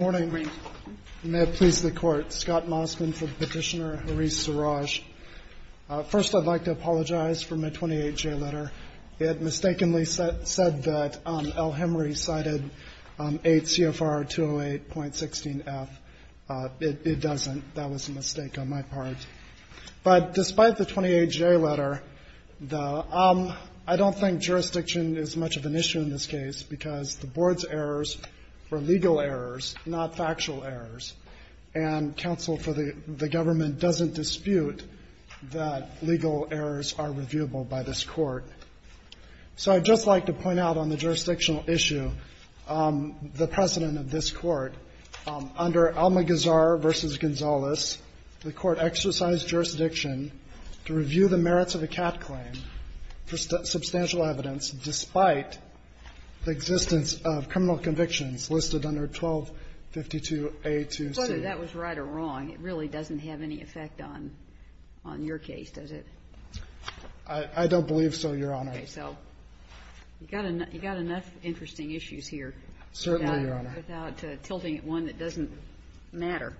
Good morning. May it please the Court. Scott Mosman for Petitioner, Haris Saraj. First, I'd like to apologize for my 28-J letter. It mistakenly said that El-Hemry cited 8 CFR 208.16f. It doesn't. That was a mistake on my part. But despite the 28-J letter, I don't think jurisdiction is much of an issue in this case because the board's errors were legal errors, not factual errors. And counsel for the government doesn't dispute that legal errors are reviewable by this Court. So I'd just like to point out on the jurisdictional issue the precedent of this Court. Under Almagazar v. Gonzales, the Court exercised jurisdiction to review the merits of a CAT claim for substantial evidence despite the existence of criminal convictions listed under 1252A2C. Whether that was right or wrong, it really doesn't have any effect on your case, does it? I don't believe so, Your Honor. Okay. So you've got enough interesting issues here. Certainly, Your Honor. Without tilting at one that doesn't matter.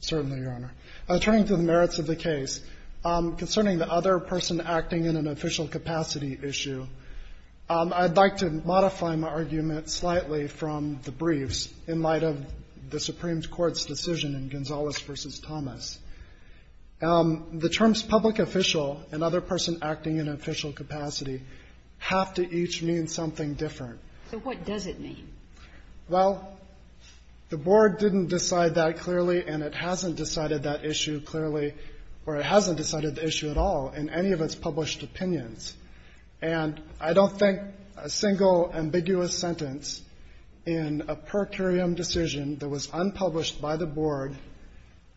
Certainly, Your Honor. Turning to the merits of the case, concerning the other person acting in an official capacity issue, I'd like to modify my argument slightly from the briefs in light of the Supreme Court's decision in Gonzales v. Thomas. The terms public official and other person acting in official capacity have to each mean something different. So what does it mean? Well, the Board didn't decide that clearly, and it hasn't decided that issue clearly or it hasn't decided the issue at all in any of its published opinions. And I don't think a single ambiguous sentence in a per curiam decision that was unpublished by the Board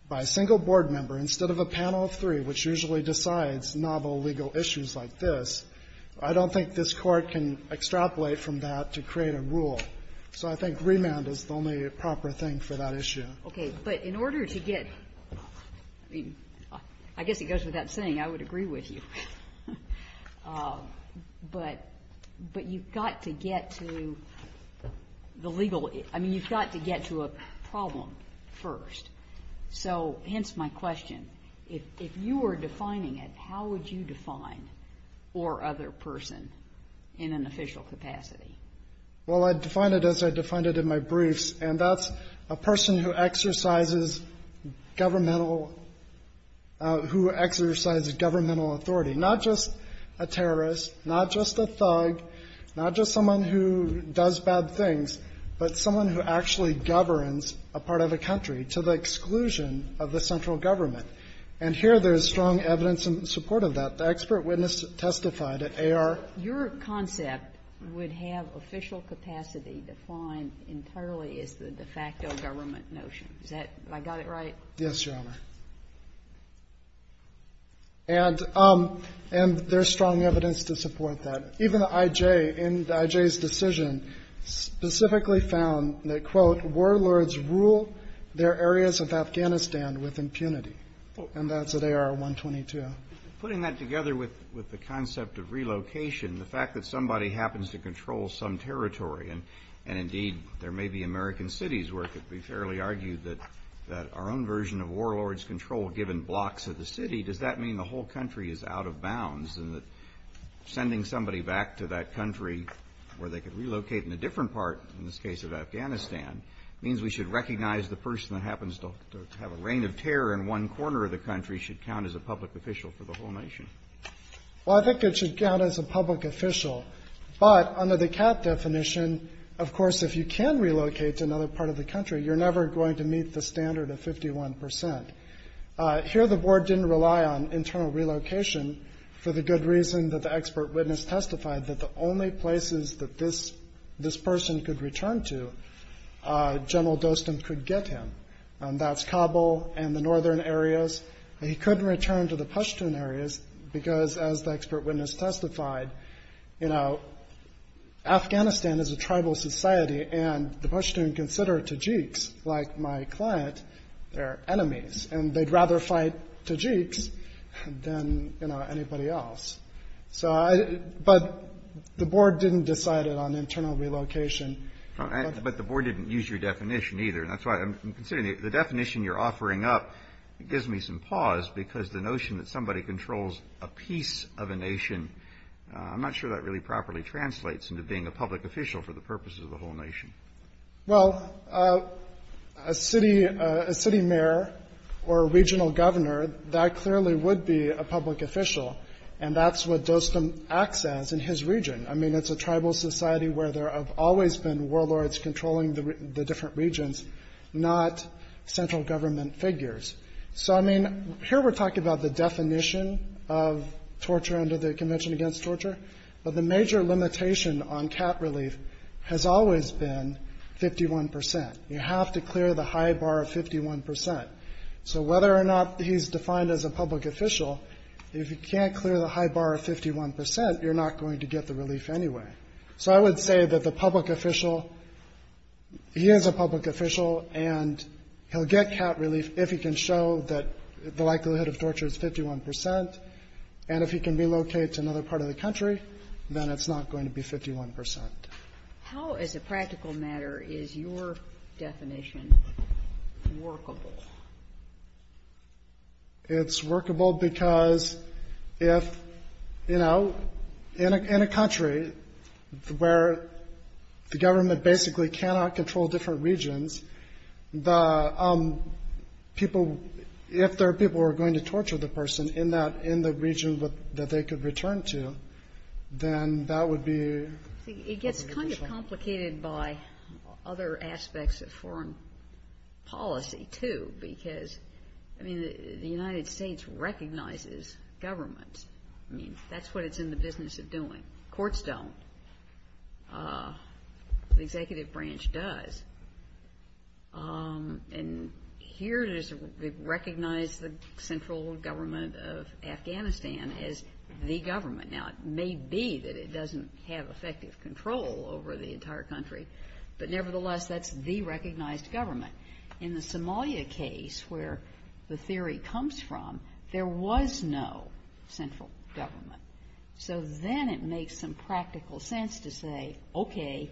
by a single Board member instead of a panel of three, which usually decides novel legal issues like this, I don't think this Court can extrapolate from that to create a rule. So I think remand is the only proper thing for that issue. Okay. But in order to get, I mean, I guess it goes without saying, I would agree with you. But you've got to get to the legal, I mean, you've got to get to a problem first. So hence my question, if you were defining it, how would you define or other person in an official capacity? Well, I'd define it as I defined it in my briefs, and that's a person who exercises governmental who exercises governmental authority, not just a terrorist, not just a thug, not just someone who does bad things, but someone who actually governs a part of a country to the exclusion of the central government. And here there is strong evidence in support of that. The expert witness testified at AR. Your concept would have official capacity defined entirely as the de facto government notion. Is that, have I got it right? Yes, Your Honor. And there's strong evidence to support that. Even the IJ, in the IJ's decision, specifically found that, quote, warlords rule their areas of Afghanistan with impunity. And that's at AR-122. Putting that together with the concept of relocation, the fact that somebody happens to control some territory, and indeed there may be American cities where it could be fairly argued that our own version of warlords control given blocks of the city, does that mean the whole country is out of bounds? And that sending somebody back to that country where they could relocate in a different part, in this case of Afghanistan, means we should recognize the person that happens to have a reign of terror in one corner of the country should count as a public official for the whole nation. Well, I think it should count as a public official. But under the CAAT definition, of course, if you can relocate to another part of the country, you're never going to meet the standard of 51%. Here the board didn't rely on internal relocation for the good reason that the expert witness testified that the only places that this person could return to, General Dostum could get him. And that's Kabul and the northern areas. He couldn't return to the Pashtun areas because, as the expert witness testified, you know, Afghanistan is a tribal society, and the Pashtun consider Tajiks, like my client, their enemies. And they'd rather fight Tajiks than, you know, anybody else. So I – but the board didn't decide it on internal relocation. But the board didn't use your definition either. And that's why I'm considering it. The definition you're offering up gives me some pause because the notion that somebody controls a piece of a nation, I'm not sure that really properly translates into being a public official for the purposes of the whole nation. Well, a city mayor or a regional governor, that clearly would be a public official, and that's what Dostum acts as in his region. I mean, it's a tribal society where there have always been warlords controlling the different regions, not central government figures. So, I mean, here we're talking about the definition of torture under the Convention Against Torture, but the major limitation on cap relief has always been 51 percent. You have to clear the high bar of 51 percent. So whether or not he's defined as a public official, if you can't clear the high bar of 51 percent, you're not going to get the relief anyway. So I would say that the public official, he is a public official and he'll get cap relief if he can show that the likelihood of torture is 51 percent. And if he can relocate to another part of the country, then it's not going to be 51 percent. How, as a practical matter, is your definition workable? It's workable because if, you know, in a country where the government basically cannot control different regions, the people, if there are people who are going to torture the person in that, in the region that they could return to, then that would be a public official. It gets kind of complicated by other aspects of foreign policy, too, because, I mean, the United States recognizes government. I mean, that's what it's in the business of doing. Courts don't. The executive branch does. And here it is recognized the central government of Afghanistan as the government. Now, it may be that it doesn't have effective control over the entire country, but nevertheless, that's the recognized government. In the Somalia case, where the theory comes from, there was no central government. So then it makes some practical sense to say, okay,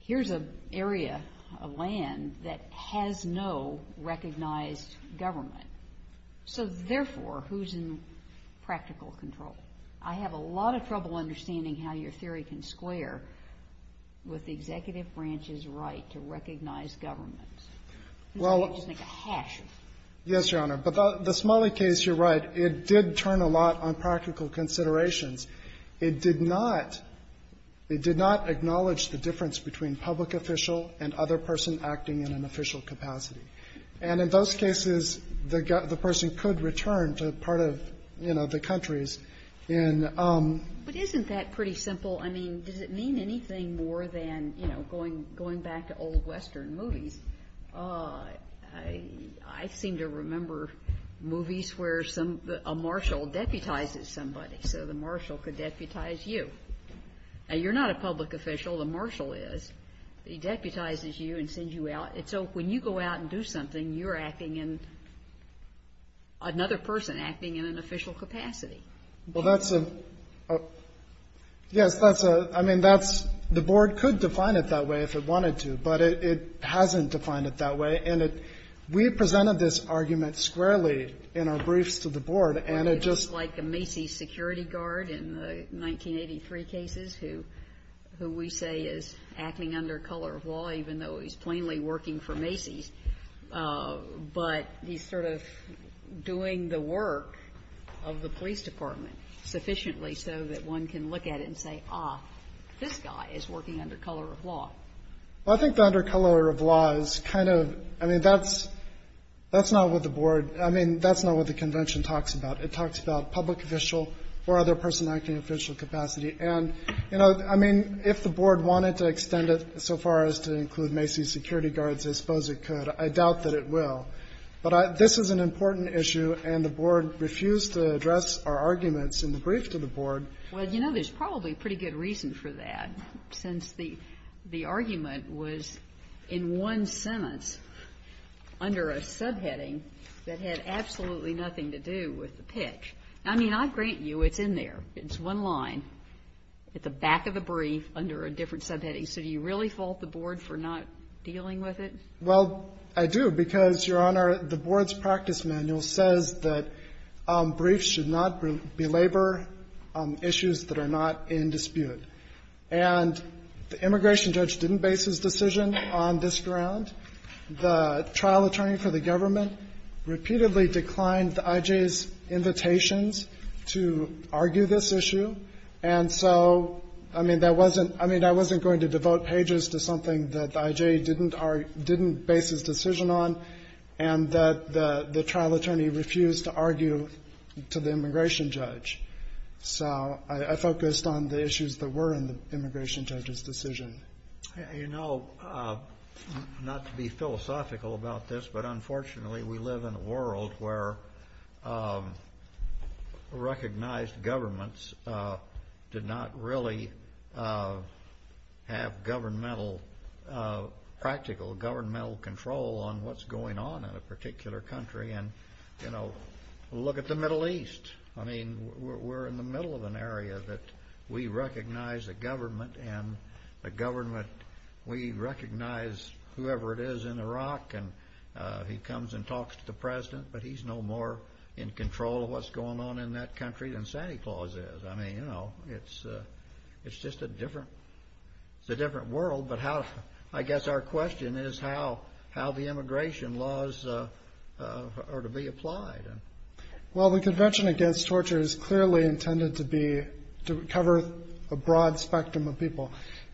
here's an area of land that has no recognized government. So therefore, who's in practical control? I have a lot of trouble understanding how your theory can square with the executive branch's right to recognize government. It's like a hash. Yes, Your Honor. But the Somalia case, you're right, it did turn a lot on practical considerations. It did not acknowledge the difference between public official and other person acting in an official capacity. And in those cases, the person could return to part of, you know, the countries. But isn't that pretty simple? I mean, does it mean anything more than, you know, going back to old Western movies? I seem to remember movies where a marshal deputizes somebody. So the marshal could deputize you. Now, you're not a public official. The marshal is. He deputizes you and sends you out. And so when you go out and do something, you're acting in another person acting in an official capacity. Well, that's a – yes, that's a – I mean, that's – the board could define it that way if it wanted to, but it hasn't defined it that way. And we presented this argument squarely in our briefs to the board, and it just – Like a Macy's security guard in the 1983 cases who we say is acting under color of law, even though he's plainly working for Macy's, but he's sort of doing the work of the police department sufficiently so that one can look at it and say, ah, this guy is working under color of law. Well, I think the under color of law is kind of – I mean, that's – that's not what the board – I mean, that's not what the convention talks about. It talks about public official or other person acting in official capacity. And, you know, I mean, if the board wanted to extend it so far as to include Macy's security guards, I suppose it could. I doubt that it will. But this is an important issue, and the board refused to address our arguments in the brief to the board. Well, you know, there's probably a pretty good reason for that, since the – the argument was in one sentence under a subheading that had absolutely nothing to do with the pitch. I mean, I grant you it's in there. It's one line at the back of the brief under a different subheading. So do you really fault the board for not dealing with it? Well, I do, because, Your Honor, the board's practice manual says that briefs should not belabor issues that are not in dispute. And the immigration judge didn't base his decision on this ground. The trial attorney for the government repeatedly declined the I.J.'s invitations to argue this issue. And so, I mean, that wasn't – I mean, I wasn't going to devote pages to something that the I.J. didn't base his decision on and that the trial attorney refused to argue to the immigration judge. So I focused on the issues that were in the immigration judge's decision. You know, not to be philosophical about this, but unfortunately we live in a world where recognized governments did not really have governmental – practical governmental control on what's going on in a particular country. And, you know, look at the Middle East. I mean, we're in the middle of an area that we recognize a government and a government – we recognize whoever it is in Iraq and he comes and talks to the president, but he's no more in control of what's going on in that country than Santy Claus is. I mean, you know, it's just a different – it's a different world, but how – I guess our question is how the immigration laws are to be applied. Well, the Convention Against Torture is clearly intended to be –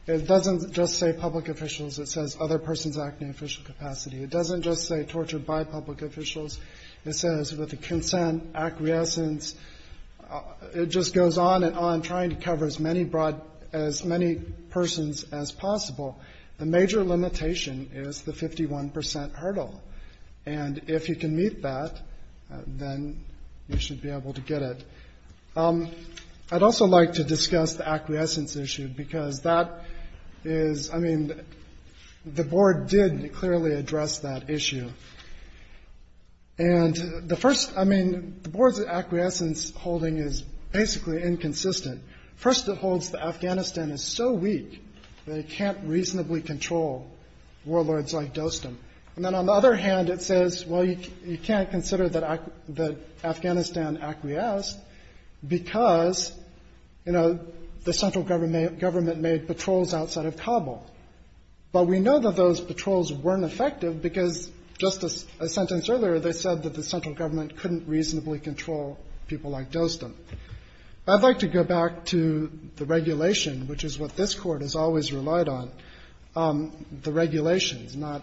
It doesn't just say public officials. It says other persons acting in official capacity. It doesn't just say torture by public officials. It says with the consent, acquiescence. It just goes on and on trying to cover as many persons as possible. The major limitation is the 51% hurdle. And if you can meet that, then you should be able to get it. I'd also like to discuss the acquiescence issue because that is – I mean, the board did clearly address that issue. And the first – I mean, the board's acquiescence holding is basically inconsistent. First, it holds that Afghanistan is so weak that it can't reasonably control warlords like Dostum. And then on the other hand, it says, well, you can't consider that Afghanistan acquiesced because, you know, the central government made patrols outside of Kabul. But we know that those patrols weren't effective because just a sentence earlier, they said that the central government couldn't reasonably control people like Dostum. I'd like to go back to the regulation, which is what this Court has always relied on, the regulations, not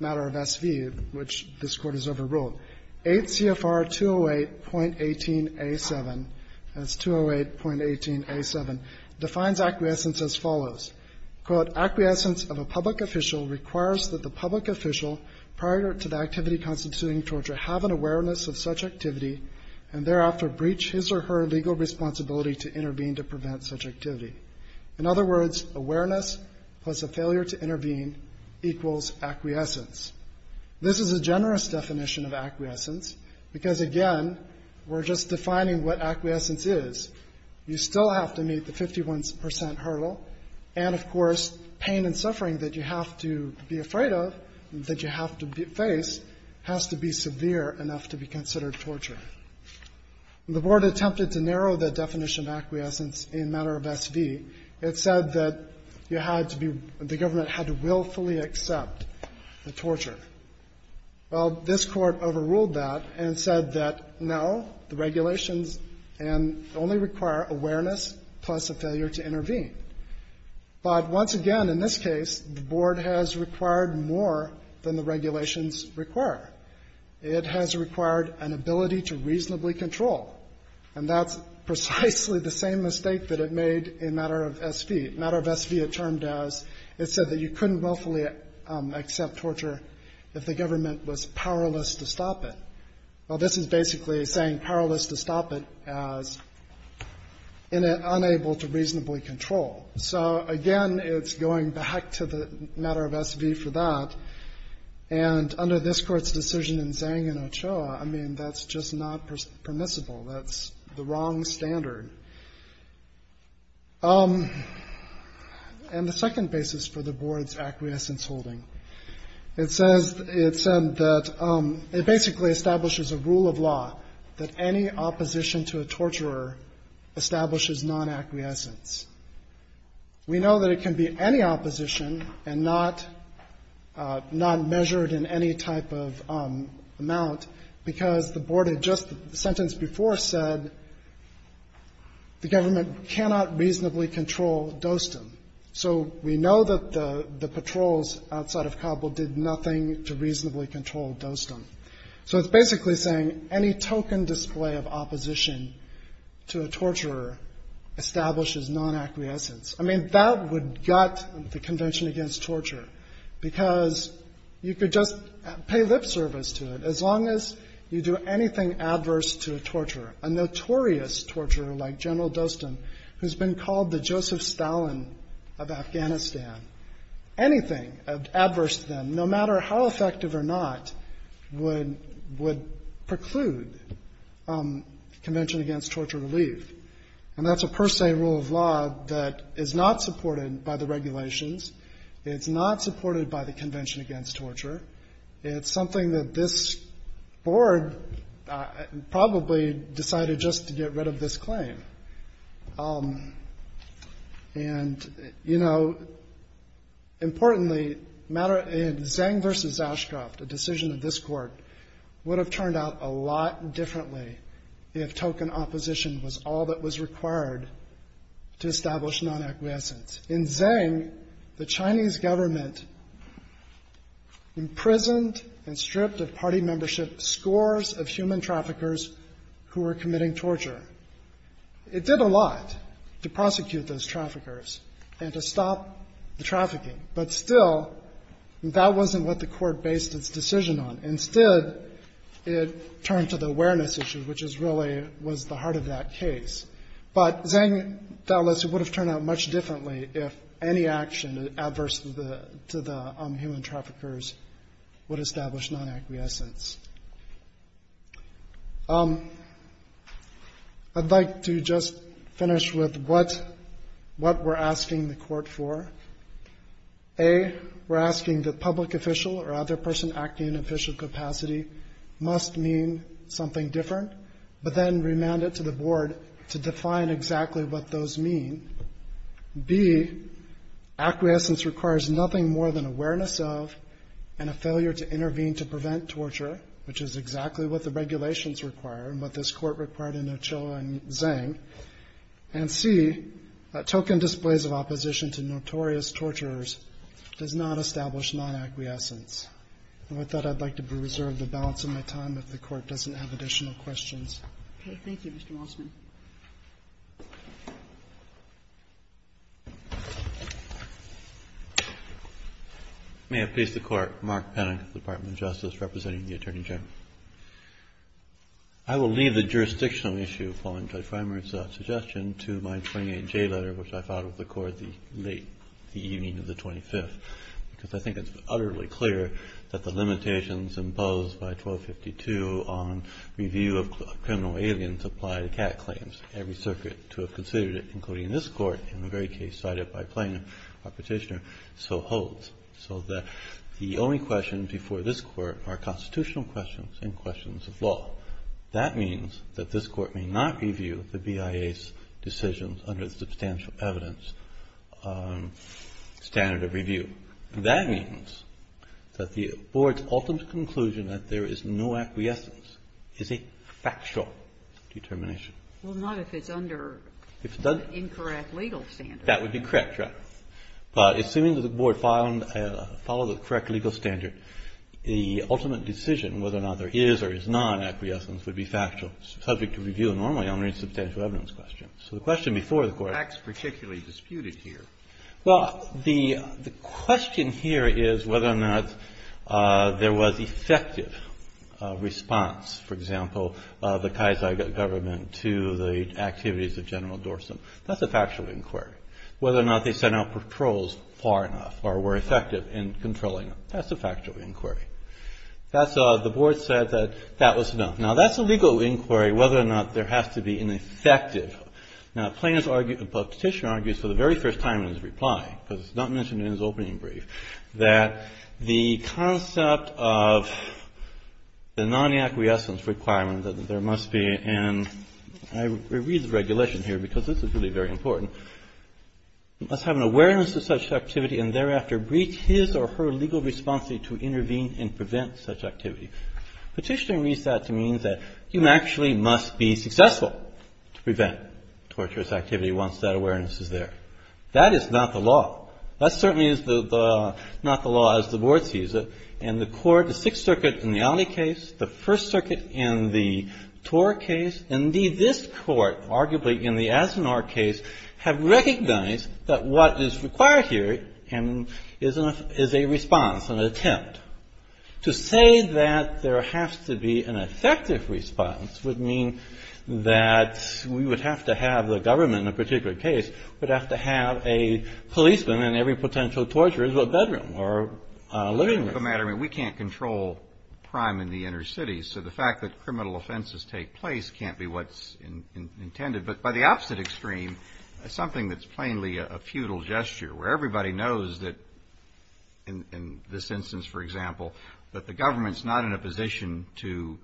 matter of SV, which this Court has overruled. 8 CFR 208.18a7 – that's 208.18a7 – defines acquiescence as follows. Quote, acquiescence of a public official requires that the public official, prior to the activity constituting torture, have an awareness of such activity and thereafter breach his or her legal responsibility to intervene to prevent such activity. In other words, awareness plus a failure to intervene equals acquiescence. This is a generous definition of acquiescence because, again, we're just defining what acquiescence is. You still have to meet the 51 percent hurdle. And, of course, pain and suffering that you have to be afraid of, that you have to face, has to be severe enough to be considered torture. When the Board attempted to narrow the definition of acquiescence in matter of SV, it said that you had to be – the government had to willfully accept the torture. Well, this Court overruled that and said that, no, the regulations can only require awareness plus a failure to intervene. But once again, in this case, the Board has required more than the regulations require. It has required an ability to reasonably control, and that's precisely the same mistake that it made in matter of SV. Matter of SV, it termed as – it said that you couldn't willfully accept torture if the government was powerless to stop it. Well, this is basically saying powerless to stop it as unable to reasonably control. So, again, it's going back to the matter of SV for that. And under this Court's decision in Zhang and Ochoa, I mean, that's just not permissible. That's the wrong standard. And the second basis for the Board's acquiescence holding, it says – it said that it basically establishes a rule of law that any opposition to a torturer establishes non-acquiescence. We know that it can be any opposition and not measured in any type of amount because the Board had just, the sentence before said, the government cannot reasonably control Dostum. So we know that the patrols outside of Kabul did nothing to reasonably control Dostum. So it's basically saying any token display of opposition to a torturer establishes non-acquiescence. I mean, that would gut the Convention Against Torture because you could just pay lip service to it. As long as you do anything adverse to a torturer, a notorious torturer like General Dostum, who's been called the Joseph Stalin of Afghanistan, anything adverse to them, no matter how effective or not, would preclude Convention Against Torture relief. And that's a per se rule of law that is not supported by the regulations. It's not supported by the Convention Against Torture. It's something that this Board probably decided just to get rid of this claim. And, you know, importantly, Zeng v. Zauschgraf, the decision of this Court, would have turned out a lot differently if token opposition was all that was required to establish non-acquiescence. In Zeng, the Chinese government imprisoned and stripped of party membership scores of human traffickers who were committing torture. It did a lot to prosecute those traffickers and to stop the trafficking. But still, that wasn't what the Court based its decision on. Instead, it turned to the awareness issue, which is really was the heart of that case. But Zeng, that list would have turned out much differently if any action adverse to the human traffickers would establish non-acquiescence. I'd like to just finish with what we're asking the Court for. A, we're asking that public official or other person acting in official capacity must mean something different, but then remand it to the Board to define exactly what those mean. B, acquiescence requires nothing more than awareness of and a failure to intervene to prevent torture which is exactly what the regulations require and what this Court required in Ochoa and Zeng. And C, token displays of opposition to notorious torturers does not establish non-acquiescence. And with that, I'd like to preserve the balance of my time if the Kagan. Okay. Thank you, Mr. Mossman. May it please the Court. Mark Penick, Department of Justice, representing the Attorney General. I will leave the jurisdictional issue following Judge Reimer's suggestion to my 28J letter which I filed with the Court late the evening of the 25th, because I think it's utterly clear that the limitations imposed by 1252 on review of criminal aliens apply to CAT claims. Every circuit to have considered it, including this Court, in the very case cited by Plano, our petitioner, so holds. So that the only questions before this Court are constitutional questions and questions of law. That means that this Court may not review the BIA's decisions under the substantial evidence standard of review. That means that the BIA's decision that the Board's ultimate conclusion that there is no acquiescence is a factual determination. Well, not if it's under an incorrect legal standard. That would be correct, right. But assuming that the Board followed the correct legal standard, the ultimate decision whether or not there is or is not an acquiescence would be factual, subject to review normally under a substantial evidence question. So the question before the Court was whether or not there was effective response, for example, of the Kaiser government to the activities of General Dorsum. That's a factual inquiry. Whether or not they sent out patrols far enough or were effective in controlling them. That's a factual inquiry. The Board said that that was enough. Now that's a legal inquiry whether or not there has to be an effective. Now Plano's petitioner argues for the very first time in his reply, because it's not mentioned in his opening brief, that the concept of the non-acquiescence requirement that there must be, and I read the regulation here because this is really very important, must have an awareness of such activity and thereafter breach his or her legal responsibility to intervene and prevent such activity. Petitioner reads that to mean that you actually must be successful to prevent torturous activity once that awareness is there. That is not the law. That certainly is not the law as the Board sees it. And the Court, the Sixth Circuit in the Alley case, the First Circuit in the Tor case, and indeed this Court, arguably in the Asinor case, have recognized that what is required here is a response, an attempt. To say that there has to be an effective response would mean that we would have to have the government, in a particular case, would have to have a policeman in every potential torturer's bedroom or living room. We can't control crime in the inner cities, so the fact that criminal offenses take place can't be what's intended. But by the opposite extreme, something that's plainly a futile gesture, where everybody knows that, in this instance for example, that the government's not in a position to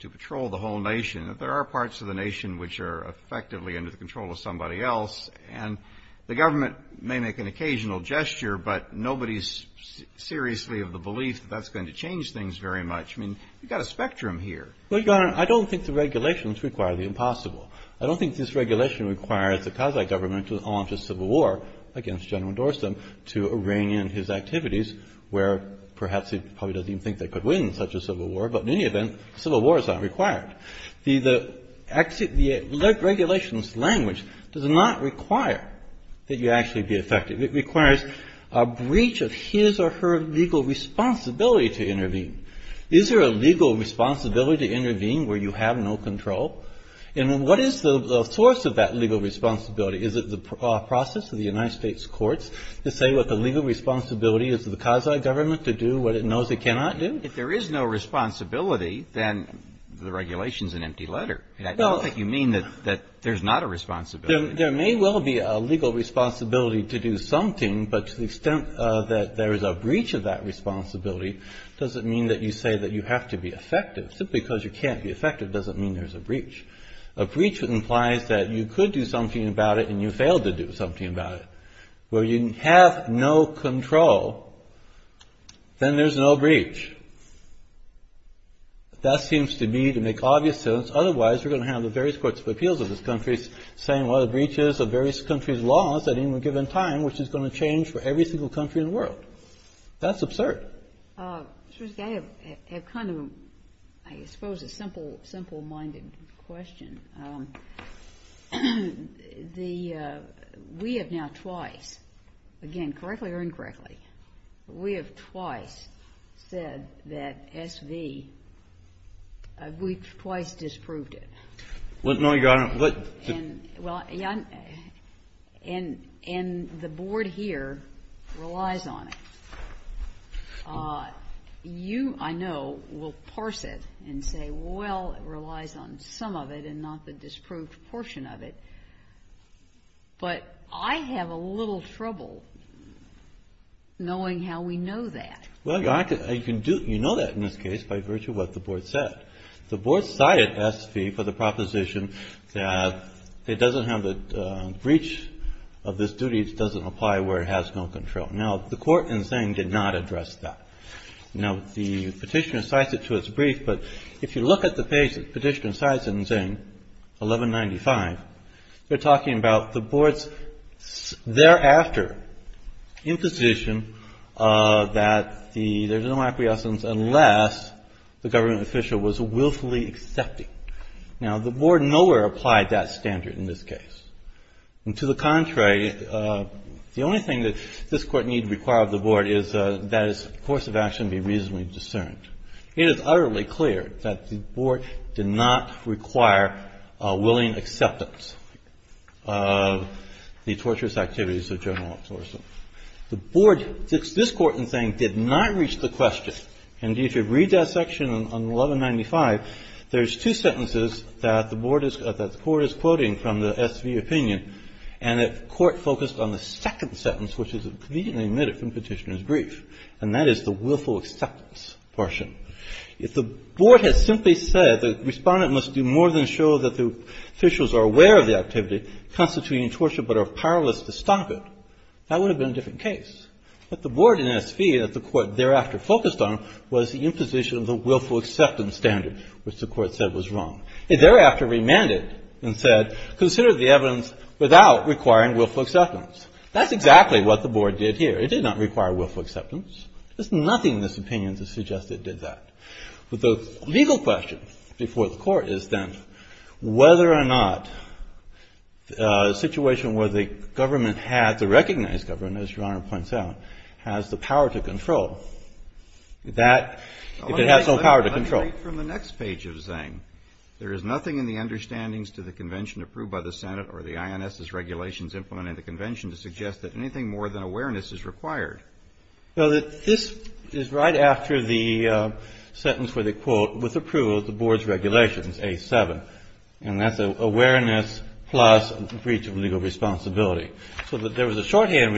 patrol the whole nation. There are parts of the nation which are effectively under the control of somebody else, and the government may make an occasional gesture, but nobody's seriously of the belief that that's going to change things very much. I mean, you've got a spectrum here. Well, Your Honor, I don't think the regulations require the impossible. I don't think this regulation requires the Kazakh government to launch a civil war against General Dorsum to rein in his activities, where perhaps he probably doesn't even think they could win such a civil war, but in any event, a civil war is not required. The regulations language does not require that you actually be effective. It requires a breach of his or her legal responsibility to intervene. Is there a legal responsibility to intervene where you have no control? And what is the source of that legal responsibility? Is it the process of the United States courts to say what the legal responsibility is of the Kazakh government to do what it knows it cannot do? If there is no responsibility, then the regulation's an empty letter. I don't think you mean that there's not a responsibility. There may well be a legal responsibility to do something, but to the extent that there is a breach of that responsibility doesn't mean that you say that you have to be effective. Simply because you can't be effective doesn't mean there's a breach. A breach implies that you could do something about it and you failed to do something about it. Where you have no control, then there's no breach. That seems to me to make obvious sense. Otherwise, we're going to have the various courts of appeals of this country saying, well, the breaches of various countries' laws at any given time, which is going to change for every single country in the world. That's absurd. Mr. Riske, I have kind of, I suppose, a simple-minded question. We have now twice, again, correctly or incorrectly, we have twice said that SV, we've twice disproved it. And the Board here relies on it. You, I know, will parse it and say, well, it relies on some of it and not the disproved portion of it, but I have a little trouble knowing how we know that. Well, you know that in this case by virtue of what the Board said. The Board cited SV for the proposition that it doesn't have a breach of this duty. It doesn't apply where it has no control. Now, the court in Zane did not address that. Now, the petitioner cites it to its brief. But if you look at the page the petitioner cites in Zane 1195, they're talking about the Board's thereafter imposition that there's no appeasance unless the government official was willfully accepting. Now, the Board nowhere applied that standard in this case. And to the contrary, the only thing that this Court need require of the Board is that its course of action be reasonably discerned. It is utterly clear that the Board did not require a willing acceptance of the torturous activities of General Absorption. The Board, this Court in Zane, did not reach the question. And if you read that section on 1195, there's two sentences that the Board is – that the Court is quoting from the SV opinion. And the Court focused on the second sentence, which is conveniently omitted from Petitioner's brief, and that is the willful acceptance portion. If the Board had simply said the Respondent must do more than show that the officials are aware of the activity constituting torture but are powerless to stop it, that would have been a different case. But the Board in SV that the Court thereafter focused on was the imposition of the willful acceptance standard, which the Court said was wrong. It thereafter remanded and said, consider the evidence without requiring willful acceptance. That's exactly what the Board did here. It did not require willful acceptance. There's nothing in this opinion to suggest it did that. But the legal question before the Court is then whether or not a situation where the government had to recognize government, as Your Honor points out, has the power to control. That, if it has some power to control. Kennedy. Let me read from the next page of Zane. There is nothing in the understandings to the convention approved by the Senate or the INS's regulations implemented in the convention to suggest that anything more than awareness is required. Well, this is right after the sentence where they quote, with approval of the Board's regulations, A7. And that's awareness plus breach of legal responsibility. So there was a shorthand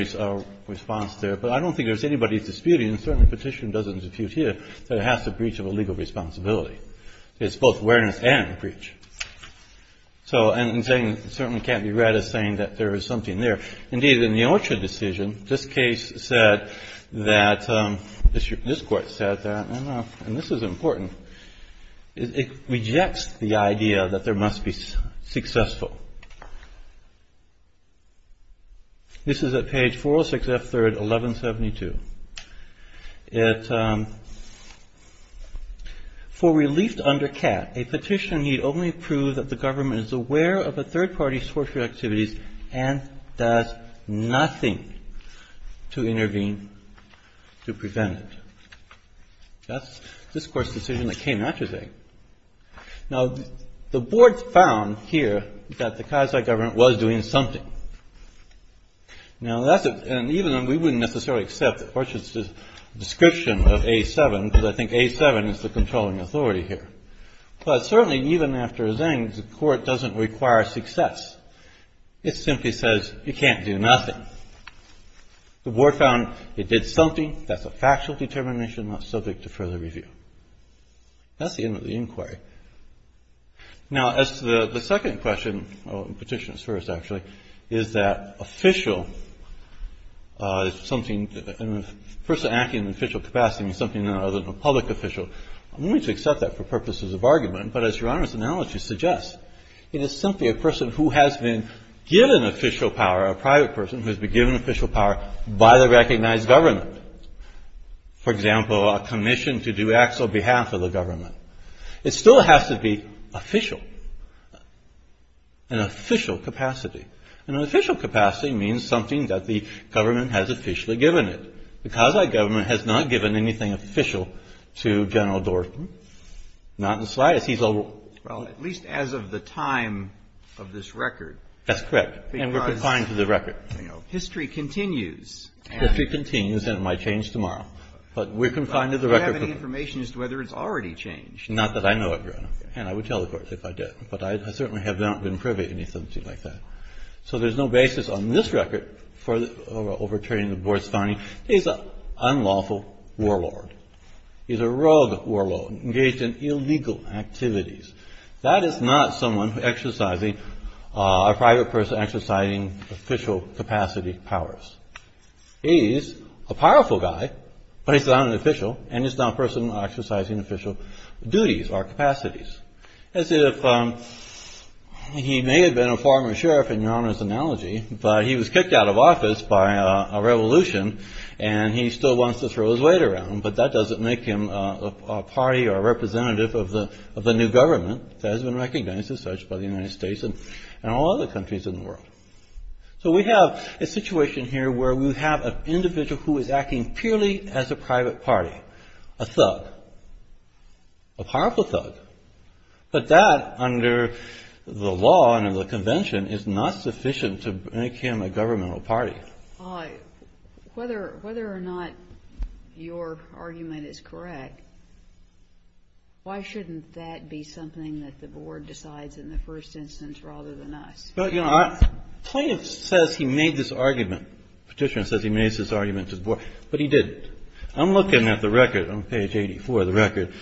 response there. But I don't think there's anybody disputing, and certainly Petitioner doesn't dispute here, that it has to breach of a legal responsibility. It's both awareness and breach. So, and Zane, it certainly can't be read as saying that there is something there. Indeed, in the Orchard Decision, this case said that, this Court said that, and this is important. It rejects the idea that there must be successful. This is at page 406, F3rd, 1172. For relief under CAT, a petition need only prove that the government is aware of a third party's torture activities and does nothing to intervene to prevent it. That's this Court's decision that came after Zane. Now, the Board found here that the Kazakh government was doing something. Now, that's a, and even, we wouldn't necessarily accept the Orchard's description of A7, because I think A7 is the controlling authority here. But certainly, even after Zane, the Court doesn't require success. It simply says you can't do nothing. The Board found it did something. That's a factual determination not subject to further review. That's the end of the inquiry. Now, as to the second question, Petitioner's first, actually, is that official, something, a person acting in an official capacity means something other than a public official. I'm willing to accept that for purposes of argument. But as Your Honor's analogy suggests, it is simply a person who has been given official power, a private person who has been given official power by the recognized government. For example, a commission to do acts on behalf of the government. It still has to be official, an official capacity. An official capacity means something that the government has officially given it. The Causeway government has not given anything official to General Dorfman. Not in the slightest. He's a rule. Roberts. Well, at least as of the time of this record. Carvin. That's correct. And we're confined to the record. Roberts. Because, you know, history continues. Carvin. History continues, and it might change tomorrow. But we're confined to the record. Roberts. Do you have any information as to whether it's already changed? Carvin. Not that I know of, Your Honor. And I would tell the Court if I did. But I certainly have not been privy to anything like that. So there's no basis on this record for overturning the Board's finding. He's an unlawful warlord. He's a rogue warlord engaged in illegal activities. That is not someone exercising, a private person exercising official capacity powers. He's a powerful guy, but he's not an official. And he's not a person exercising official duties or capacities. As if he may have been a former sheriff, in Your Honor's analogy, but he was kicked out of office by a revolution and he still wants to throw his weight around. But that doesn't make him a party or a representative of the new government that has been recognized as such by the United States and all other countries in the world. So we have a situation here where we have an individual who is acting purely as a private party. A thug. A powerful thug. But that, under the law and under the Convention, is not sufficient to make him a governmental party. Kagan. Whether or not your argument is correct, why shouldn't that be something that the Board decides in the first instance rather than us? Well, you know, plaintiff says he made this argument. Petitioner says he made this argument to the Board. But he didn't. I'm looking at the record on page 84, the record.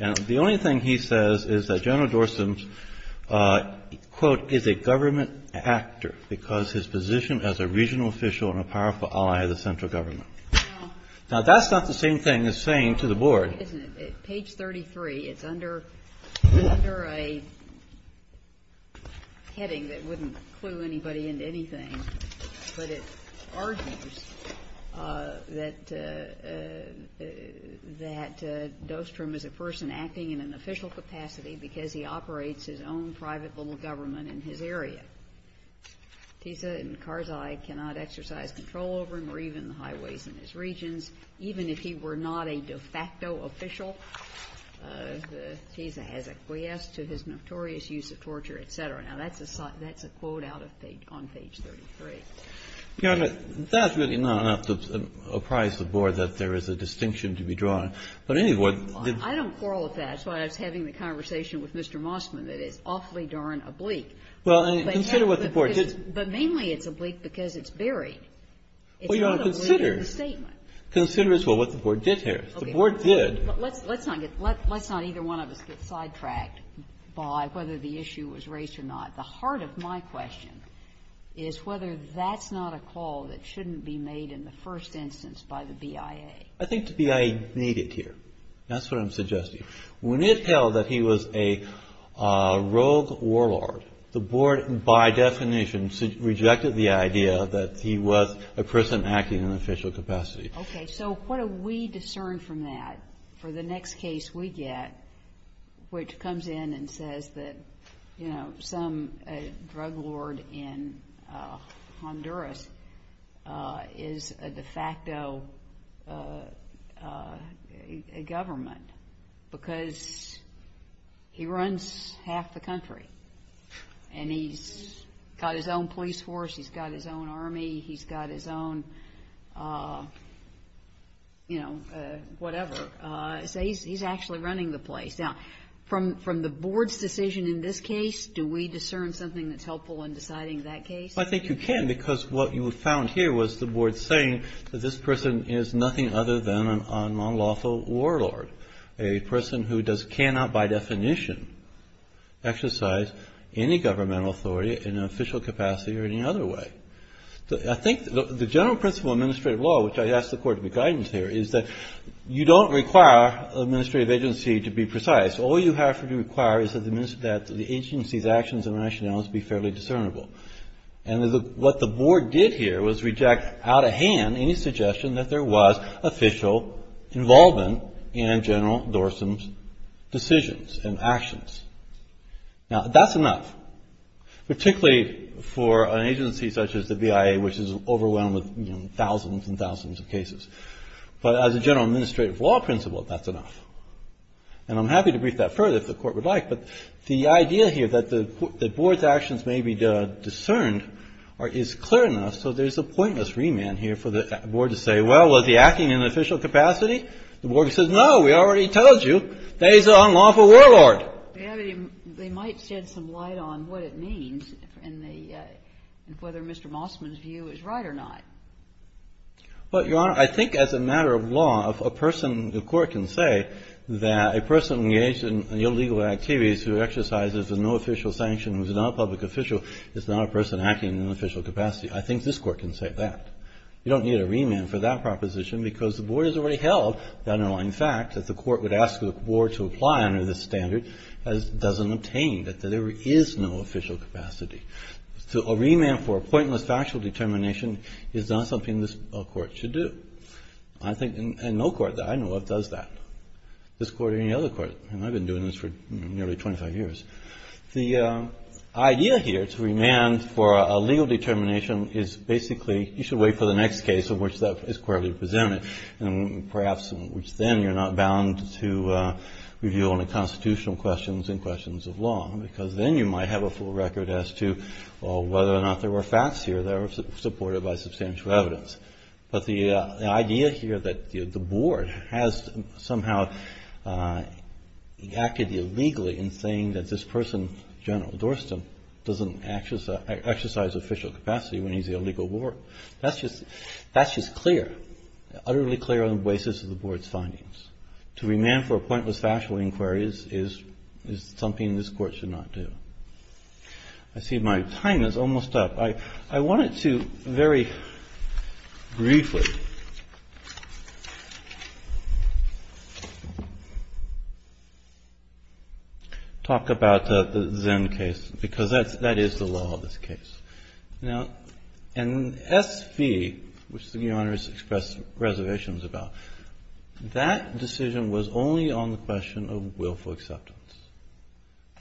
And the only thing he says is that General Dorsum's, quote, is a government actor because his position as a regional official and a powerful ally of the central government. Now, that's not the same thing as saying to the Board. Isn't it? Page 33, it's under a heading that wouldn't clue anybody into anything. But it argues that Dostrum is a person acting in an official capacity because he operates his own private little government in his area. Tisa and Karzai cannot exercise control over him or even the highways in his regions, even if he were not a de facto official. Tisa has acquiesced to his notorious use of torture, et cetera. Now, that's a quote out of page 33. Your Honor, that's really not enough to apprise the Board that there is a distinction to be drawn. But anyway, the Board did not. I don't quarrel with that. That's why I was having the conversation with Mr. Moskvin, that it's awfully darn oblique. Well, and consider what the Board did. But mainly it's oblique because it's buried. It's not oblique in the statement. Consider as well what the Board did here. The Board did. Let's not either one of us get sidetracked by whether the issue was raised or not. The heart of my question is whether that's not a call that shouldn't be made in the first instance by the BIA. I think the BIA made it here. That's what I'm suggesting. When it held that he was a rogue warlord, the Board, by definition, rejected the idea that he was a person acting in an official capacity. Okay. So what do we discern from that for the next case we get, which comes in and says that, you know, some drug lord in Honduras is a de facto government because he runs half the country and he's got his own police force. He's got his own army. He's got his own, you know, whatever. So he's actually running the place. Now, from the Board's decision in this case, do we discern something that's helpful in deciding that case? I think you can because what you found here was the Board saying that this person is nothing other than an unlawful warlord, a person who cannot by definition exercise any governmental authority in an official capacity or any other way. I think the general principle of administrative law, which I ask the Court to be guidance here, is that you don't require an administrative agency to be precise. All you have to require is that the agency's actions and rationales be fairly discernible. And what the Board did here was reject out of hand any suggestion that there was official involvement in General Dorsum's decisions and actions. Now, that's enough, particularly for an agency such as the BIA, which is overwhelmed with thousands and thousands of cases. But as a general administrative law principle, that's enough. And I'm happy to brief that further if the Court would like, but the idea here that the Board's actions may be discerned is clear enough, so there's a pointless remand here for the Board to say, well, was he acting in an official capacity? The Board says, no, we already told you, he's an unlawful warlord. They might shed some light on what it means and whether Mr. Mossman's view is right or not. Well, Your Honor, I think as a matter of law, if a person, the Court can say that a person engaged in illegal activities who exercises no official sanction, who's not a public official, is not a person acting in an official capacity, I think this Court can say that. You don't need a remand for that proposition because the Board has already held the underlying fact that the Court would ask the Board to apply under this standard as doesn't obtain, that there is no official capacity. So a remand for a pointless factual determination is not something this Court should do. I think no Court that I know of does that, this Court or any other Court. And I've been doing this for nearly 25 years. The idea here to remand for a legal determination is basically, you should wait for the next case in which that is correctly presented, and perhaps in which then you're not bound to review only constitutional questions and questions of law, because then you might have a full record as to whether or not there were facts here that were supported by substantial evidence. But the idea here that the Board has somehow acted illegally in saying that this person, General Dorstan, doesn't exercise official capacity when he's in a legal war, that's just clear, utterly clear on the basis of the Board's findings. To remand for a pointless factual inquiry is something this Court should not do. I see my time is almost up. I wanted to very briefly talk about the Zinn case, because that is the law of this case. Now, in S.V., which the Your Honor has expressed reservations about, that decision was only on the question of willful acceptance.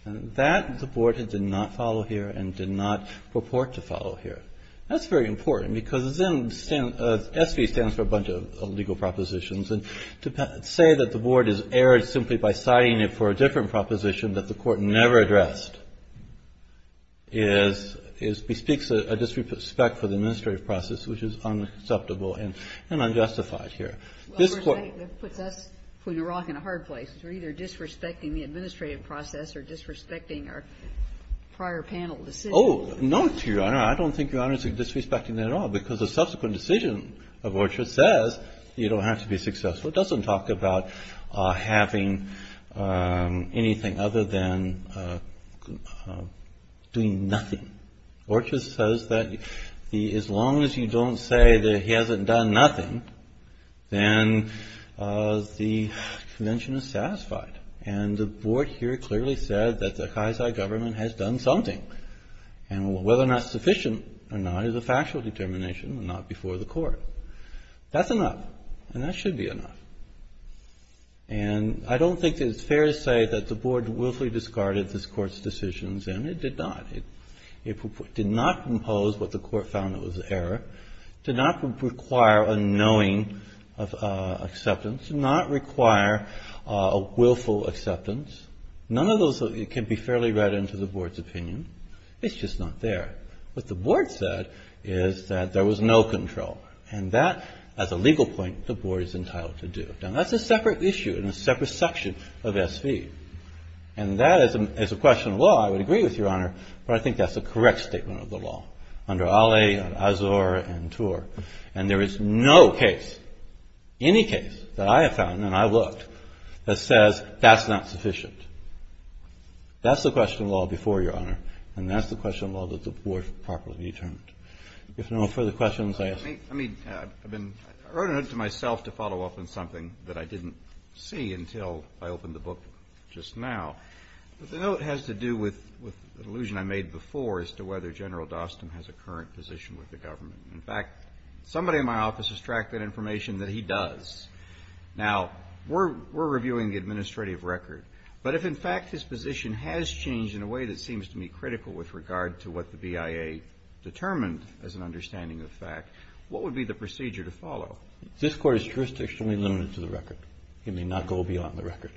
And that the Board did not follow here and did not purport to follow here. That's very important, because Zinn, S.V. stands for a bunch of legal propositions, and to say that the Board has erred simply by citing it for a different proposition that the Court never addressed is, bespeaks a disrespect for the administrative process, which is unacceptable and unjustified here. This Court ---- Kagan. Well, that puts us between a rock and a hard place. We're either disrespecting the administrative process or disrespecting our prior panel decision. Oh, no, Your Honor. I don't think Your Honor is disrespecting that at all, because the subsequent decision of Orchard says you don't have to be successful. It doesn't talk about having anything other than doing nothing. Orchard says that as long as you don't say that he hasn't done nothing, then the convention is satisfied. And the Board here clearly said that the Kaisei government has done something, and whether or not sufficient or not is a factual determination, not before the Court. That's enough, and that should be enough. And I don't think that it's fair to say that the Board willfully discarded this Court's decisions, and it did not. It did not impose what the Court found was error, did not require a knowing of acceptance, did not require a willful acceptance. None of those can be fairly read into the Board's opinion. It's just not there. What the Board said is that there was no control, and that, as a legal point, the Board is entitled to do. Now, that's a separate issue and a separate section of SV. And that is a question of law. I would agree with Your Honor, but I think that's a correct statement of the law, under Ale, Azor, and Tor. And there is no case, any case, that I have found, and I've looked, that says that's not sufficient. That's the question of law before, Your Honor, and that's the question of law that the Board properly determined. If no further questions, I ask. I mean, I wrote a note to myself to follow up on something that I didn't see until I opened the book just now. But the note has to do with an allusion I made before as to whether General Dostum has a current position with the government. In fact, somebody in my office has tracked that information that he does. Now, we're reviewing the administrative record. But if, in fact, his position has changed in a way that seems to me critical with regard to what the BIA determined as an understanding of the fact, what would be the procedure to follow? This Court is jurisdictionally limited to the record. It may not go beyond the record.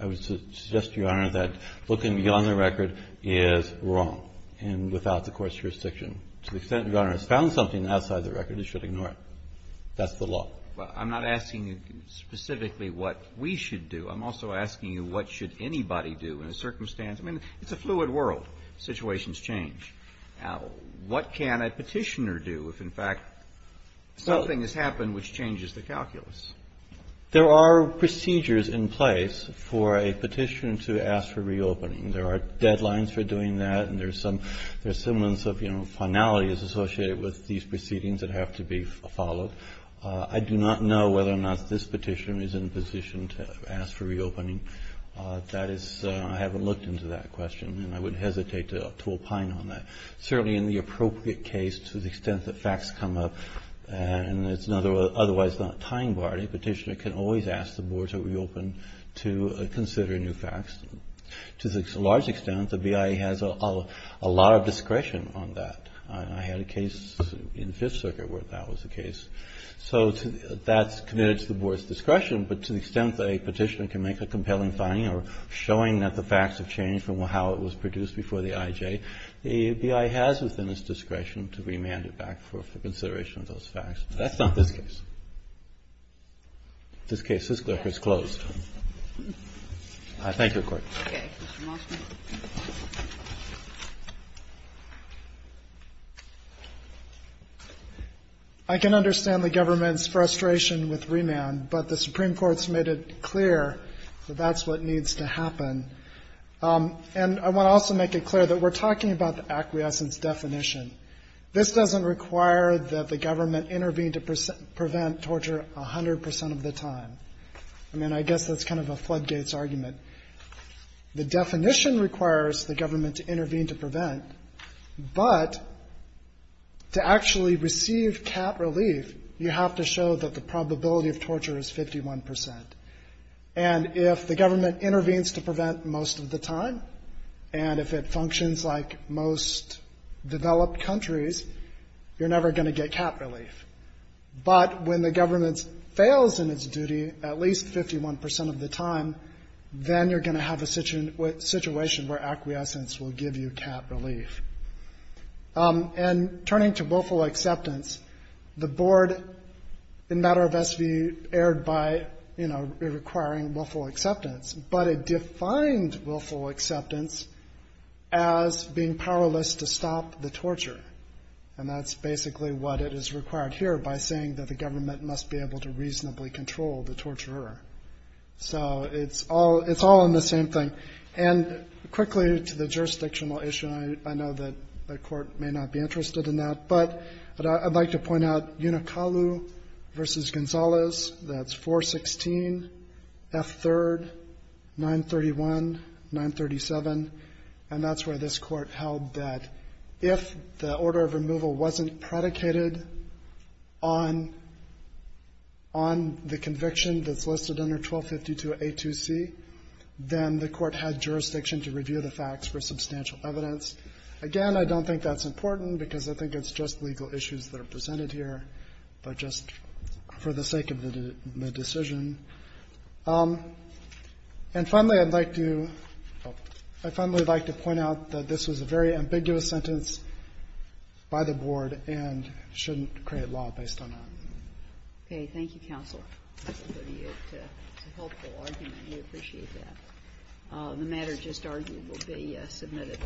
I would suggest to Your Honor that looking beyond the record is wrong and without the Court's jurisdiction. To the extent Your Honor has found something outside the record, you should ignore it. That's the law. Well, I'm not asking you specifically what we should do. I'm also asking you what should anybody do in a circumstance. I mean, it's a fluid world. Situations change. Now, what can a Petitioner do if, in fact, something has happened which changes the calculus? There are procedures in place for a Petitioner to ask for reopening. There are deadlines for doing that. And there's some of, you know, finality that's associated with these proceedings that have to be followed. I do not know whether or not this Petitioner is in a position to ask for reopening. That is, I haven't looked into that question. And I wouldn't hesitate to opine on that. Certainly in the appropriate case, to the extent that facts come up, and it's otherwise not a tying bar, a Petitioner can always ask the Board to reopen to consider new facts. To a large extent, the BIA has a lot of discretion on that. I had a case in Fifth Circuit where that was the case. So that's committed to the Board's discretion. But to the extent that a Petitioner can make a compelling finding or showing that the facts have changed from how it was produced before the IJ, the BIA has within its discretion to remand it back for consideration of those facts. That's not this case. This case is closed. Thank you, Your Court. Kagan. Mr. Moskowitz. Moskowitz. I can understand the government's frustration with remand, but the Supreme Court has made it clear that that's what needs to happen. And I want to also make it clear that we're talking about the acquiescence definition. This doesn't require that the government intervene to prevent torture 100 percent of the time. I mean, I guess that's kind of a floodgates argument. The definition requires the government to intervene to prevent, but to actually receive cat relief, you have to show that the probability of torture is 51 percent. And if the government intervenes to prevent most of the time, and if it functions like most developed countries, you're never going to get cat relief. But when the government fails in its duty at least 51 percent of the time, then you're going to have a situation where acquiescence will give you cat relief. And turning to willful acceptance, the board in matter of SVU erred by requiring willful acceptance, but it defined willful acceptance as being powerless to stop the torture. And that's basically what it is required here by saying that the government must be able to reasonably control the torturer. So it's all in the same thing. And quickly to the jurisdictional issue, I know that the Court may not be interested in that, but I'd like to point out Unicalu v. Gonzalez, that's 416, F3rd, 931, 937, and that's where this Court held that if the order of removal wasn't predicated on the conviction that's listed under 1252A2C, then the Court had jurisdiction to review the facts for substantial evidence. Again, I don't think that's important because I think it's just legal issues that are presented here, but just for the sake of the decision. And finally, I'd like to point out that this was a very ambiguous sentence by the board and shouldn't create law based on that. Okay. Thank you, counsel. That's a helpful argument. We appreciate that. The matter just argued will be submitted.